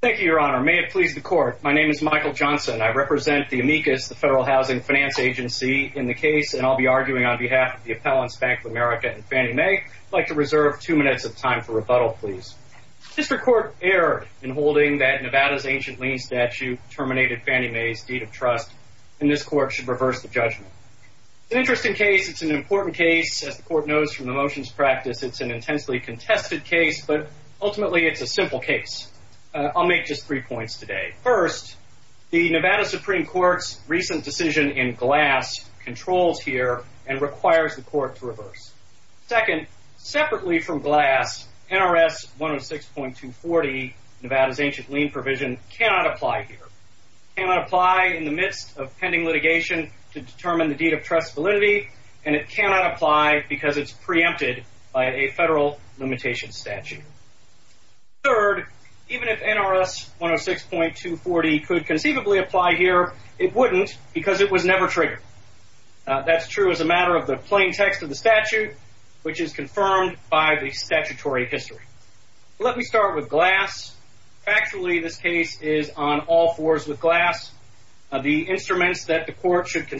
Thank you, Your Honor. May it please the Court, my name is Michael Johnson. I represent the amicus, the Federal Housing Finance Agency, in the case, and I'll be arguing on behalf of the appellants, Bank of America and Fannie Mae. I'd like to reserve two minutes of time for rebuttal, please. District Court erred in holding that Nevada's ancient lien statute terminated Fannie Mae's deed of trust, and this Court should reverse the judgment. It's an interesting case. It's an important case. As the Court knows from the motions practice, it's an intensely contested case, but ultimately it's a simple case. I'll make just three points today. First, the Nevada Supreme Court's recent decision in Glass controls here and requires the Court to reverse. Second, separately from Glass, NRS 106.240, Nevada's ancient lien provision, cannot apply here. It cannot apply in the midst of pending litigation to determine the deed of trust validity, and it cannot apply because it's preempted by a federal limitation statute. Third, even if NRS 106.240 could conceivably apply here, it wouldn't because it was never triggered. That's true as a matter of the plain text of the statute, which is confirmed by the statutory history. Let me start with Glass. Factually, this case is on all fours with Glass. The instruments that the Court should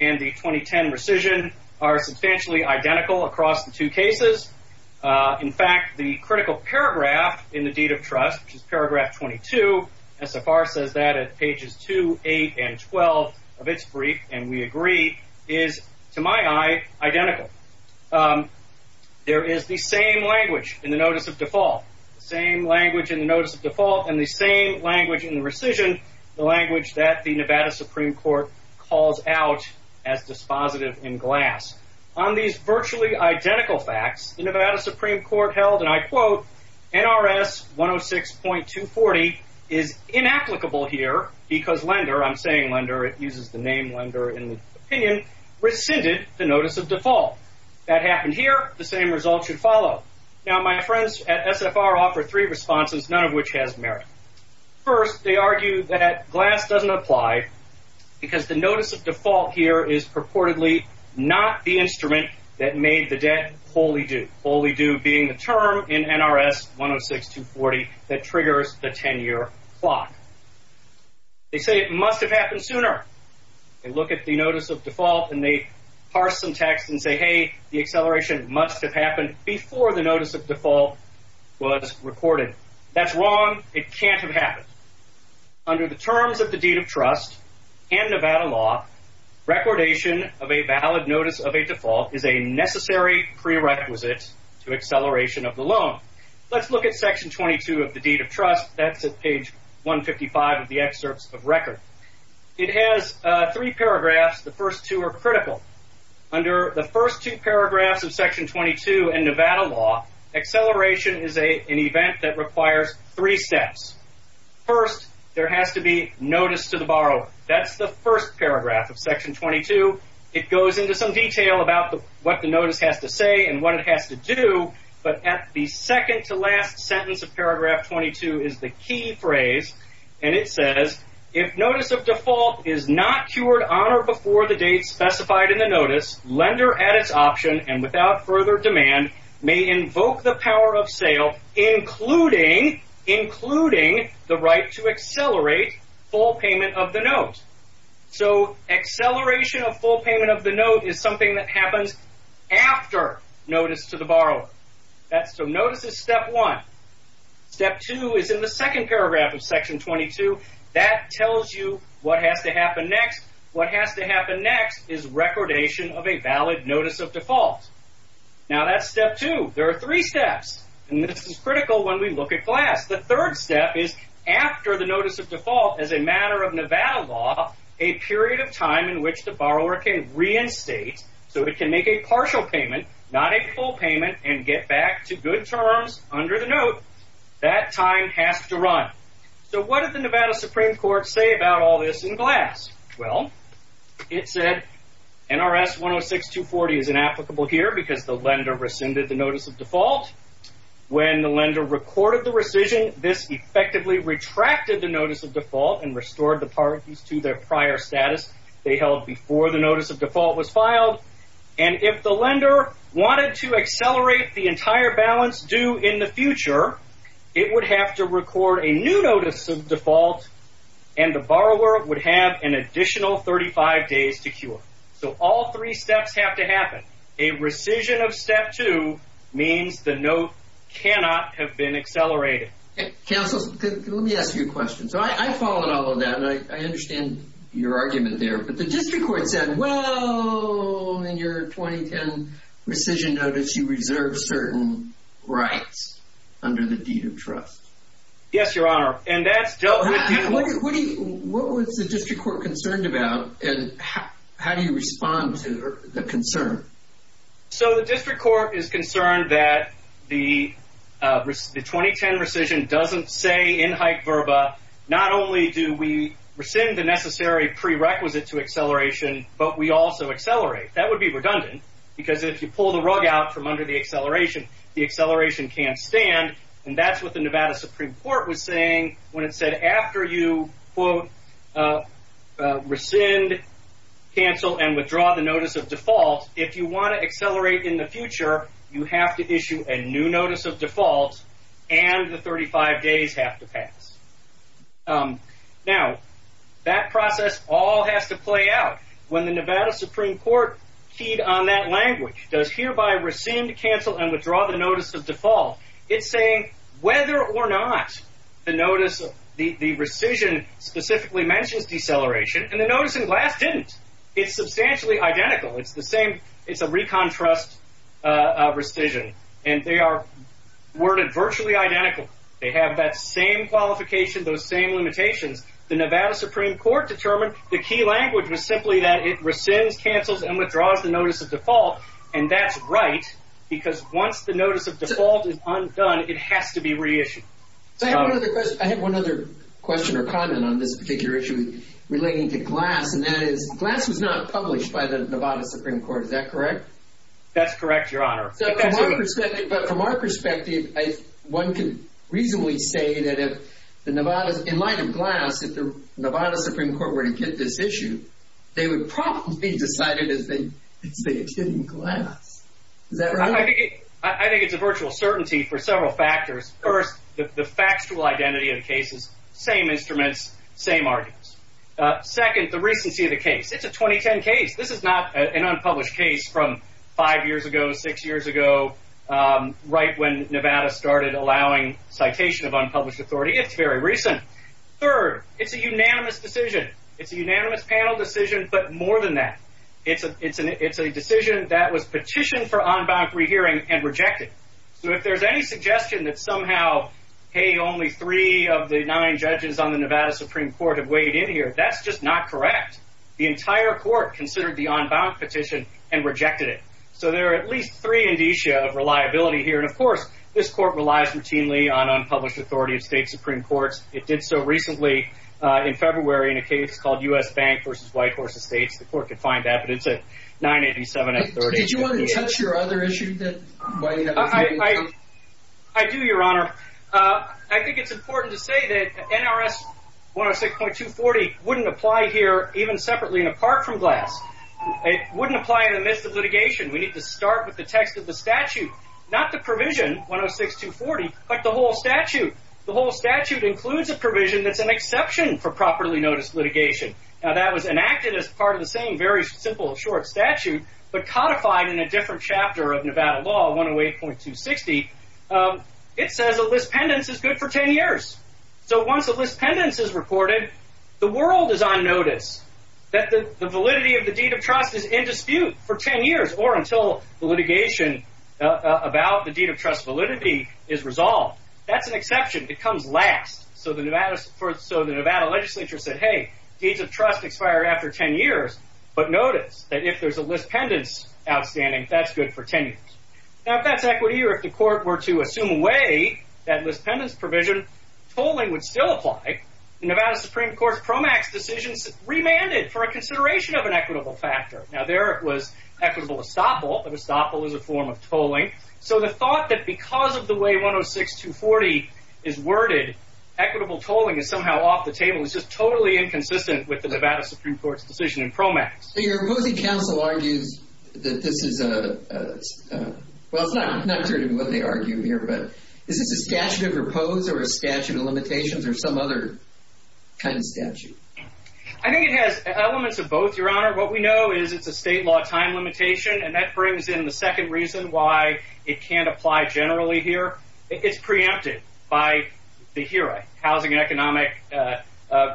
and the 2010 rescission are substantially identical across the two cases. In fact, the critical paragraph in the deed of trust, which is paragraph 22, SFR says that at pages 2, 8, and 12 of its brief, and we agree, is, to my eye, identical. There is the same language in the notice of default, same language in the notice of default, and the same language in the rescission, the language that the Nevada Supreme Court calls out as dispositive in Glass. On these virtually identical facts, the Nevada Supreme Court held, and I quote, NRS 106.240 is inapplicable here because Lender, I'm saying Lender, it uses the name Lender in the opinion, rescinded the notice of default. That happened here, the same result should follow. Now, my friends at SFR offer three responses, none of which has merit. First, they argue that Glass doesn't apply because the notice of default here is purportedly not the instrument that made the debt wholly due. Wholly due being the term in NRS 106.240 that triggers the 10-year clock. They say it must have happened sooner. They look at the notice of default and they parse some text and say, hey, the acceleration must have happened before the notice of due. It can't have happened. Under the terms of the deed of trust and Nevada law, recordation of a valid notice of a default is a necessary prerequisite to acceleration of the loan. Let's look at section 22 of the deed of trust. That's at page 155 of the excerpts of record. It has three paragraphs. The first two are critical. Under the first two paragraphs of section 22 in Nevada law, acceleration is an event that requires three steps. First, there has to be notice to the borrower. That's the first paragraph of section 22. It goes into some detail about what the notice has to say and what it has to do, but at the second to last sentence of paragraph 22 is the key phrase, and it says, if notice of default is not cured on or before the date specified in the notice, lender at its option and without further demand may invoke the power of sale, including the right to accelerate full payment of the note. So, acceleration of full payment of the note is something that happens after notice to the borrower. So notice is step one. Step two is in the second paragraph of section 22. That tells you what has to happen next. What has to happen next is recordation of a valid notice of default. Now that's step two. There are three steps, and this is critical when we look at Glass. The third step is after the notice of default, as a matter of Nevada law, a period of time in which the borrower can reinstate, so it can make a partial payment, not a full payment, and get back to good terms under the note. That time has to run. So what did the Nevada Supreme Court say about all this in Glass? Well, it said NRS 106-240 is inapplicable here because the lender rescinded the notice of default. When the lender recorded the rescission, this effectively retracted the notice of default and restored the parties to their prior status they held before the notice of default was filed, and if the lender wanted to accelerate the entire balance due in the future, it would have to record a new notice of default, and the borrower would have an additional 35 days to cure. So all three steps have to happen. A rescission of step two means the note cannot have been accelerated. Counsel, let me ask you a question. So I followed all of that, and I understand your argument there, but the district court said, well, in your 2010 rescission notice, you reserved certain rights under the deed of trust. Yes, Your Honor, and that's dealt with. What was the district court concerned about, and how do you respond to the concern? So the district court is concerned that the 2010 rescission doesn't say in hype verba, not only do we rescind the necessary prerequisite to acceleration, but we also accelerate. That would be redundant because if you pull the rug out from under the acceleration, the acceleration can't stand, and that's what the Nevada Supreme Court was saying when it said after you, quote, rescind, cancel, and withdraw the notice of default, if you want to accelerate in the future, you have to issue a new notice of default, and the 35 days have to pass. Now, that process all has to play out. When the Nevada Supreme Court keyed on that language, does hereby rescind, cancel, and withdraw the notice of default, it's saying whether or not the notice, the rescission specifically mentions deceleration, and the notice in glass didn't. It's substantially identical. It's the same, it's a recontrast rescission, and they are worded virtually identical. They have that same qualification, those same limitations. The Nevada Supreme Court determined the key language was simply that it rescinds, cancels, and withdraws the notice of default, and that's right, because once the notice of default is undone, it has to be reissued. I have one other question or comment on this particular issue relating to glass, and that is, glass was not published by the Nevada Supreme Court, is that correct? That's correct, Your Honor. But from our perspective, one can reasonably say that if the Nevada, in light of glass, if the Nevada Supreme Court were to get this issue, they would probably decide it's in glass. Is that right? I think it's a virtual certainty for several factors. First, the factual identity of cases, same instruments, same arguments. Second, the recency of the case. It's a 2010 case. This is not an unpublished case from five years ago, six years ago, right when Nevada started allowing citation of unpublished authority. It's very recent. Third, it's a unanimous decision. It's a unanimous panel decision, but more than that, it's a decision that was petitioned for on-bound pre-hearing and rejected. So if there's any suggestion that somehow, hey, only three of the nine judges on the Nevada Supreme Court have weighed in here, that's just not correct. The entire court considered the on-bound petition and rejected it. So there are at least three indicia of reliability here, and of course, this court relies routinely on unpublished authority of state versus white horse estates. The court could find that, but it's at 987 and 30. Did you want to touch your other issue that... I do, Your Honor. I think it's important to say that NRS 106.240 wouldn't apply here even separately and apart from glass. It wouldn't apply in the midst of litigation. We need to start with the text of the statute, not the provision 106.240, but the whole statute. The whole statute includes a provision that's an activist part of the same very simple, short statute, but codified in a different chapter of Nevada law, 108.260. It says a lispendence is good for ten years. So once a lispendence is reported, the world is on notice that the validity of the deed of trust is in dispute for ten years or until the litigation about the deed of trust validity is resolved. That's an exception. It comes last. So the Nevada legislature said, hey, deeds of trust are good for ten years, but notice that if there's a lispendence outstanding, that's good for ten years. Now if that's equity or if the court were to assume away that lispendence provision, tolling would still apply. The Nevada Supreme Court's PROMAX decisions remanded for a consideration of an equitable factor. Now there it was equitable estoppel, but estoppel is a form of tolling. So the thought that because of the way 106.240 is worded, equitable tolling is somehow off the table is just totally inconsistent with the Nevada Supreme Court's decision in PROMAX. Your opposing counsel argues that this is a, well it's not necessarily what they argue here, but is this a statute of repose or a statute of limitations or some other kind of statute? I think it has elements of both, Your Honor. What we know is it's a state law time limitation, and that brings in the second reason why it can't apply generally here. It's preempted by the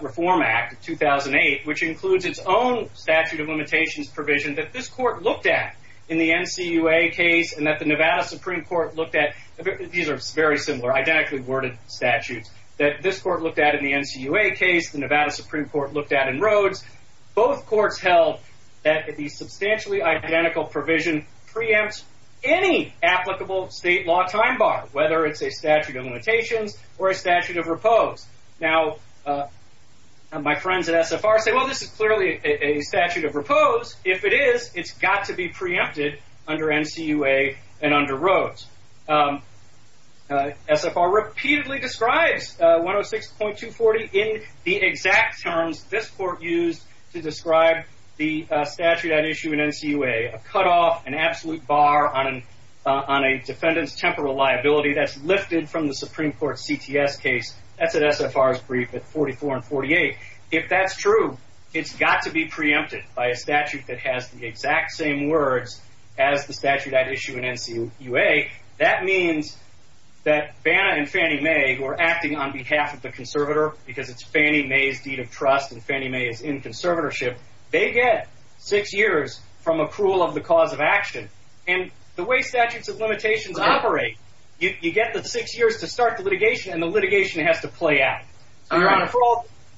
Reform Act of 2008, which includes its own statute of limitations provision that this court looked at in the NCUA case and that the Nevada Supreme Court looked at. These are very similar, identically worded statutes, that this court looked at in the NCUA case, the Nevada Supreme Court looked at in Rhodes. Both courts held that the substantially identical provision preempts any applicable state law time bar, whether it's a statute of limitations or a statute of repose. Now my friends at SFR say, well this is clearly a statute of repose. If it is, it's got to be preempted under NCUA and under Rhodes. SFR repeatedly describes 106.240 in the exact terms this court used to describe the statute at issue in NCUA. A cutoff, an absolute bar on a defendant's temporal liability that's SFR's brief at 44 and 48. If that's true, it's got to be preempted by a statute that has the exact same words as the statute at issue in NCUA. That means that Banna and Fannie Mae, who are acting on behalf of the conservator, because it's Fannie Mae's deed of trust and Fannie Mae is in conservatorship, they get six years from accrual of the cause of action. And the way statutes of limitations operate, you get the six years to start the litigation and the act. Your Honor,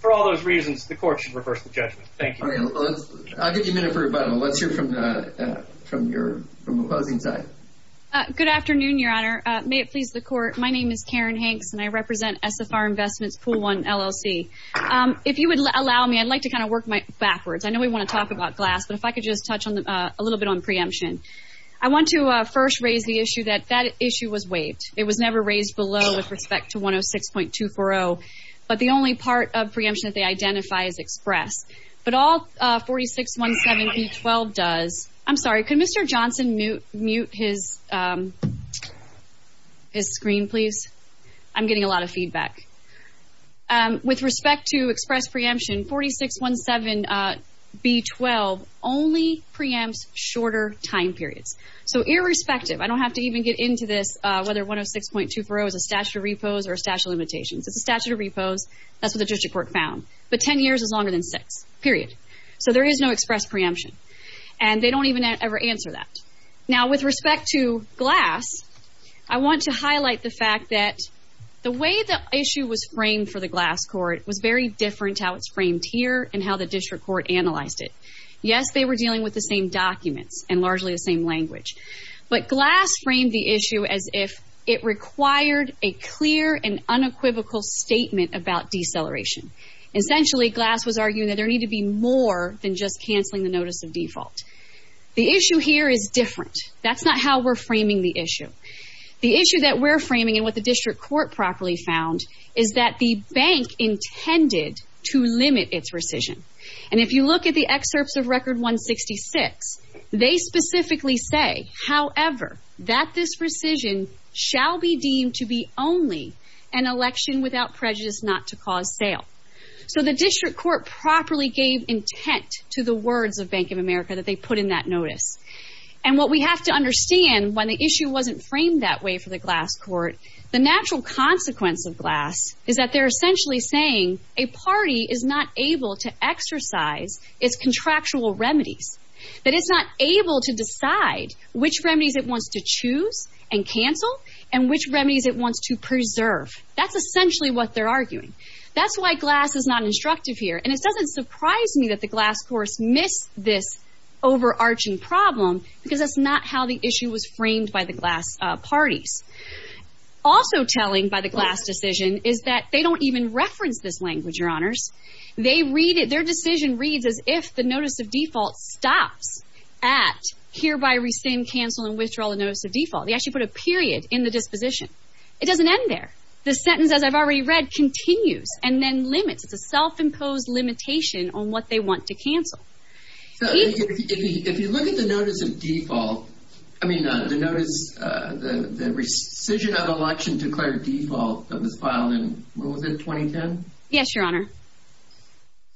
for all those reasons, the court should reverse the judgment. Thank you. All right. I'll give you a minute for rebuttal. Let's hear from your opposing side. Good afternoon, Your Honor. May it please the court. My name is Karen Hanks and I represent SFR Investments Pool 1 LLC. If you would allow me, I'd like to kind of work backwards. I know we want to talk about glass, but if I could just touch a little bit on preemption. I want to first raise the issue that that issue was raised below with respect to 106.240, but the only part of preemption that they identify is express. But all 4617B12 does, I'm sorry, can Mr. Johnson mute his screen, please? I'm getting a lot of feedback. With respect to express preemption, 4617B12 only preempts shorter time periods. So irrespective, I don't know if 240 is a statute of repose or a statute of limitations. It's a statute of repose. That's what the district court found. But 10 years is longer than six, period. So there is no express preemption. And they don't even ever answer that. Now, with respect to glass, I want to highlight the fact that the way the issue was framed for the glass court was very different how it's framed here and how the district court analyzed it. Yes, they were dealing with the same documents and largely the same language. But glass framed the issue as if it required a clear and unequivocal statement about deceleration. Essentially, glass was arguing that there need to be more than just canceling the notice of default. The issue here is different. That's not how we're framing the issue. The issue that we're framing and what the district court properly found is that the bank intended to limit its rescission. And if you look at the excerpts of Record 166, they specifically say, however, that this rescission shall be deemed to be only an election without prejudice not to cause sale. So the district court properly gave intent to the words of Bank of America that they put in that notice. And what we have to understand when the issue wasn't framed that way for the glass court, the natural consequence of glass is that they're essentially saying a party is not able to exercise its contractual remedies, that it's not able to decide which remedies it wants to choose and cancel and which remedies it wants to preserve. That's essentially what they're arguing. That's why glass is not instructive here. And it doesn't surprise me that the glass course missed this overarching problem because that's not how the issue was framed by the glass parties. Also telling by the glass decision is that they don't even reference this language, your honors. They read it. Their decision reads as if the notice of default stops at hereby rescind, cancel, and withdraw the notice of default. They actually put a period in the disposition. It doesn't end there. The sentence, as I've already read, continues and then limits. It's a self-imposed limitation on what they want to cancel. If you look at the notice of default, I mean the notice, the rescission of election declared default that was filed in, what was it, 2010? Yes, your honor.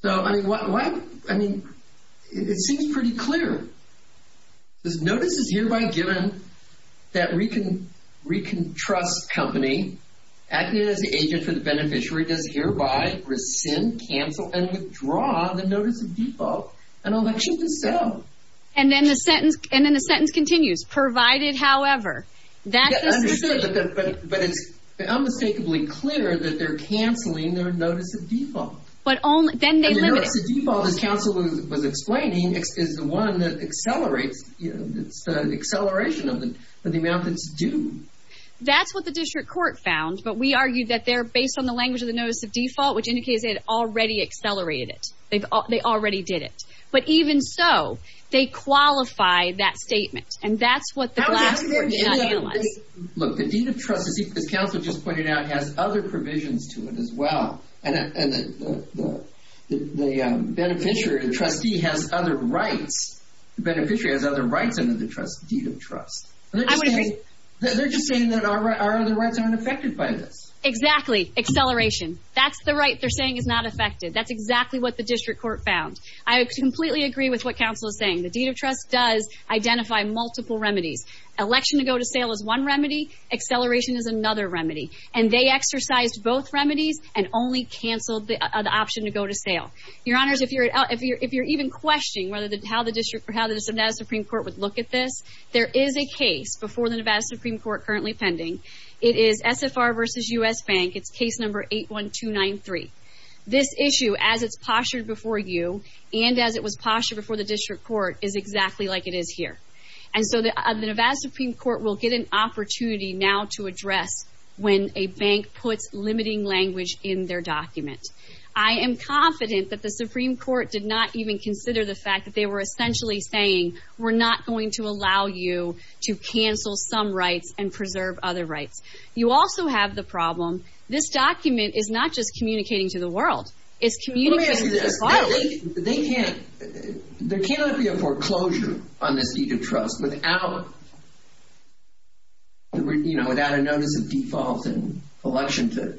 So, I mean, it seems pretty clear. This notice is hereby given that Recon Trust Company, acting as the agent for the beneficiary, does hereby rescind, cancel, and withdraw the notice of default and election to sell. And then the sentence continues, provided however. That's understood, but it's unmistakably clear that they're canceling their notice of default. But only, then they limit it. The notice of default, as counsel was explaining, is the one that accelerates, it's the acceleration of the, of the amount that's due. That's what the district court found, but we argued that they're based on the language of the notice of default, which indicates they had already accelerated it. They've, they already did it. But even so, they qualify that statement and that's what the glass court did not analyze. Look, the deed of trust, as counsel just pointed out, has other provisions to it as well. And the beneficiary, the trustee, has other rights. The beneficiary has other rights under the deed of trust. They're just saying that our other rights aren't affected by this. Exactly. Acceleration. That's the right they're saying is not affected. That's exactly what the district court found. I completely agree with what counsel is saying. The deed of trust does identify multiple remedies. Election to go to sale is one remedy. Acceleration is another remedy. And they exercised both remedies and only canceled the option to go to sale. Your honors, if you're, if you're, if you're even questioning whether the, how the district, or how the Nevada Supreme Court would look at this, there is a case before the Nevada Supreme Court currently pending. It is SFR versus U.S. Bank. It's case number 81293. This issue, as it's postured before you, and as it was postured before the district court, is exactly like it is here. And so the Nevada Supreme Court will get an opportunity now to address when a bank puts limiting language in their document. I am confident that the Supreme Court did not even consider the fact that they were essentially saying, we're not going to allow you to cancel some rights and preserve other rights. You also have the problem, this document is not just communicating to the world. It's communicating to the public. They can't, there cannot be a foreclosure on this deed of trust without, you know, without a notice of default and election to,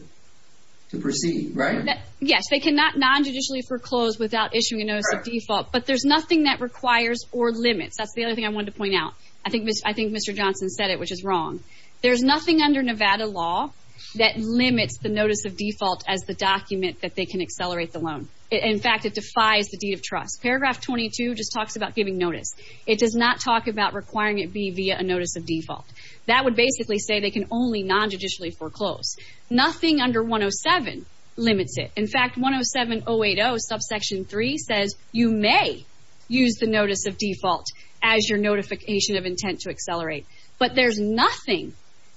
to proceed, right? Yes, they cannot non-judicially foreclose without issuing a notice of default, but there's nothing that requires or limits. That's the other thing I wanted to point out. I think, I think Mr. Johnson said it, which is wrong. There's nothing under Nevada law that limits the notice of default as the document that they can accelerate the loan. In fact, it defies the deed of trust. Paragraph 22 just talks about giving notice. It does not talk about requiring it be via a notice of default. That would basically say they can only non-judicially foreclose. Nothing under 107 limits it. In fact, 107080 subsection 3 says you may use the notice of default as your notification of intent to accelerate, but there's nothing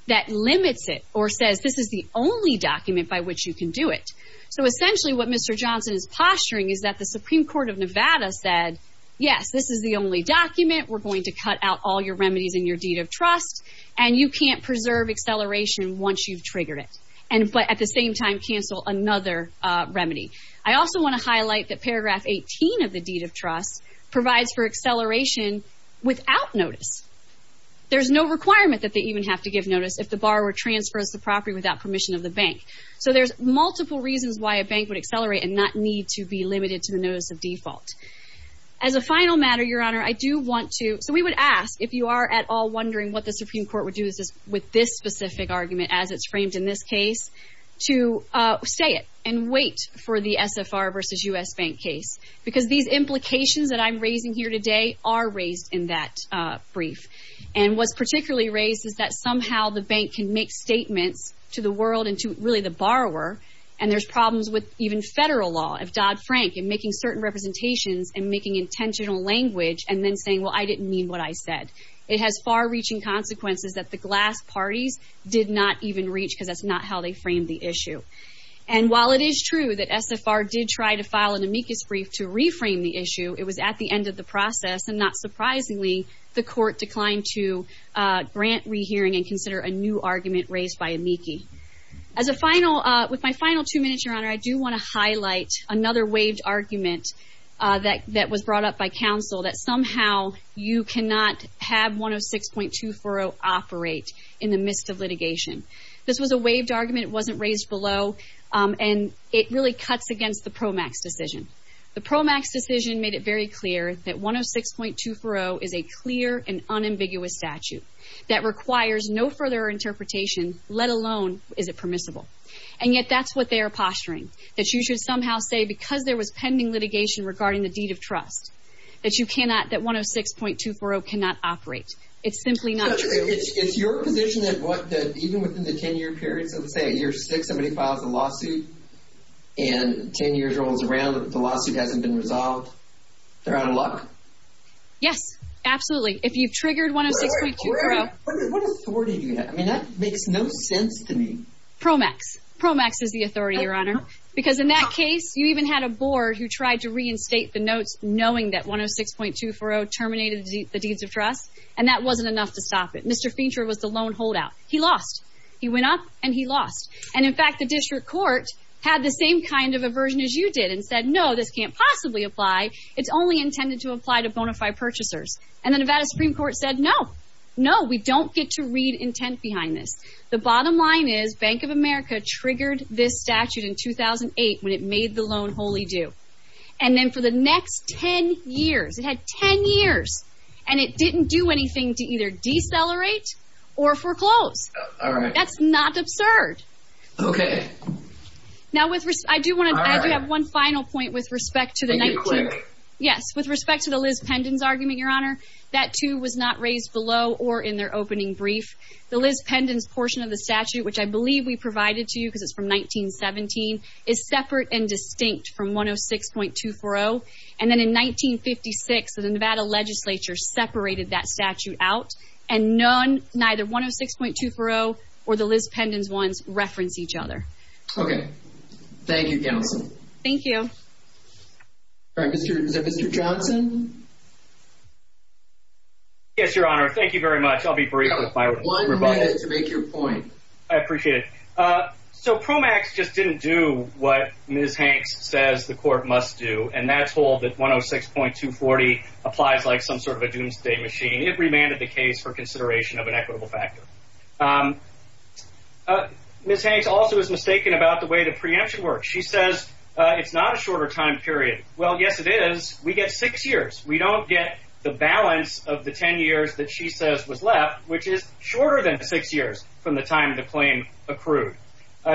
that limits it or says this is the only document by which you can do it. So essentially, what Mr. Johnson is posturing is that the Supreme Court of Nevada said, yes, this is the only document. We're going to cut out all your remedies in your deed of trust, and you can't preserve acceleration once you've triggered it, and, but at the same time, cancel another remedy. I also want to highlight that paragraph 18 of the deed of trust provides for acceleration without notice. There's no requirement that they even have to give notice if the borrower transfers the property without permission of the bank. So there's multiple reasons why a bank would accelerate and not need to be limited to the notice of default. As a final matter, Your Honor, I do want to, so we would ask, if you are at all wondering what the Supreme Court would do with this specific argument as it's framed in this case, to say it and wait for the SFR versus U.S. Bank case, because these implications that I'm raising here today are raised in that brief, and what's particularly raised is that somehow the bank can make statements to the world and to really the borrower, and there's problems with even federal law of Dodd-Frank and making certain representations and making intentional language and then saying, well, I didn't mean what I said. It has far-reaching consequences that the glass parties did not even reach because that's not how they framed the issue. And while it is true that SFR did try to file an amicus brief to reframe the issue, it was at the end of the process, and not surprisingly, the court declined to grant rehearing and consider a new argument raised by amici. As a final, with my final two minutes, Your Honor, I do want to highlight another waived argument that was brought up by counsel that somehow you cannot have 106.2-40 operate in the midst of litigation. This was a waived argument. It wasn't raised below, and it really cuts against the PROMAX decision. The PROMAX decision made it very clear that 106.2-40 is a clear and unambiguous statute that requires no further interpretation, let alone is it permissible. And yet that's what they are posturing, that you should somehow say because there was pending litigation regarding the deed of trust that you cannot, that 106.2-40 cannot operate. It's simply not true. But it's your position that even within the 10-year period, so let's say at year six, somebody files a lawsuit, and 10 years rolls around, the lawsuit hasn't been resolved, they're out of luck? Yes, absolutely. If you've triggered 106.2-40. What authority do you have? I mean, that makes no sense to me. PROMAX. PROMAX is the authority, Your Honor, because in that case, you even had a board who tried to reinstate the notes knowing that 106.2-40 terminated the deeds of trust, and that wasn't enough to stop it. Mr. Fincher was the lone holdout. He lost. He went up and he lost. And in fact, the district court had the same kind of aversion as you did and said, no, this can't possibly apply. It's only intended to apply to bona fide purchasers. And the Nevada Supreme Court said, no, no, we don't get to read intent behind this. The bottom line is Bank of America triggered this statute in 2008 when it made the lone do. And then for the next 10 years, it had 10 years and it didn't do anything to either decelerate or foreclose. All right. That's not absurd. Okay. Now, I do have one final point with respect to the 19- Can you click? Yes. With respect to the Liz Pendon's argument, Your Honor, that too was not raised below or in their opening brief. The Liz Pendon's portion of the statute, which I believe we provided to you because from 1917, is separate and distinct from 106.240. And then in 1956, the Nevada legislature separated that statute out and none, neither 106.240 or the Liz Pendon's ones reference each other. Okay. Thank you, Gelson. Thank you. All right, Mr. Johnson. Yes, Your Honor. Thank you very much. I'll be brief with my- One minute to make your point. I appreciate it. So PROMAX just didn't do what Ms. Hanks says the court must do. And that told that 106.240 applies like some sort of a doomsday machine. It remanded the case for consideration of an equitable factor. Ms. Hanks also is mistaken about the way the preemption works. She says it's not a shorter time period. Well, yes, it is. We get six years. We don't get the balance of the 10 years that she says was left, which is shorter than six years from the time the claim accrued.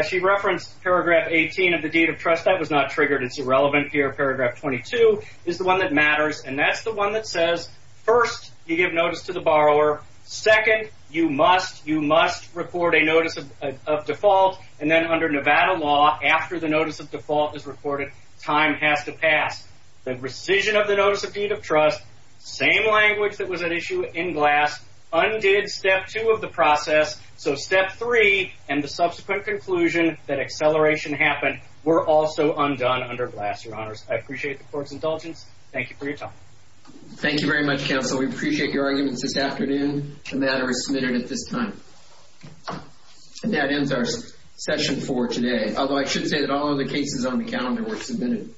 She referenced paragraph 18 of the deed of trust. That was not triggered. It's irrelevant here. Paragraph 22 is the one that matters. And that's the one that says, first, you give notice to the borrower. Second, you must report a notice of default. And then under Nevada law, after the notice of default is reported, time has to pass. The rescission of the notice of deed of trust, same language that was at issue in Glass, undid step two of the process. So step three and the subsequent conclusion that acceleration happened were also undone under Glass, Your Honors. I appreciate the court's indulgence. Thank you for your time. Thank you very much, counsel. We appreciate your arguments this afternoon. The matter is submitted at this time. And that ends our session for today. Although I should say that all of the cases on the calendar were submitted.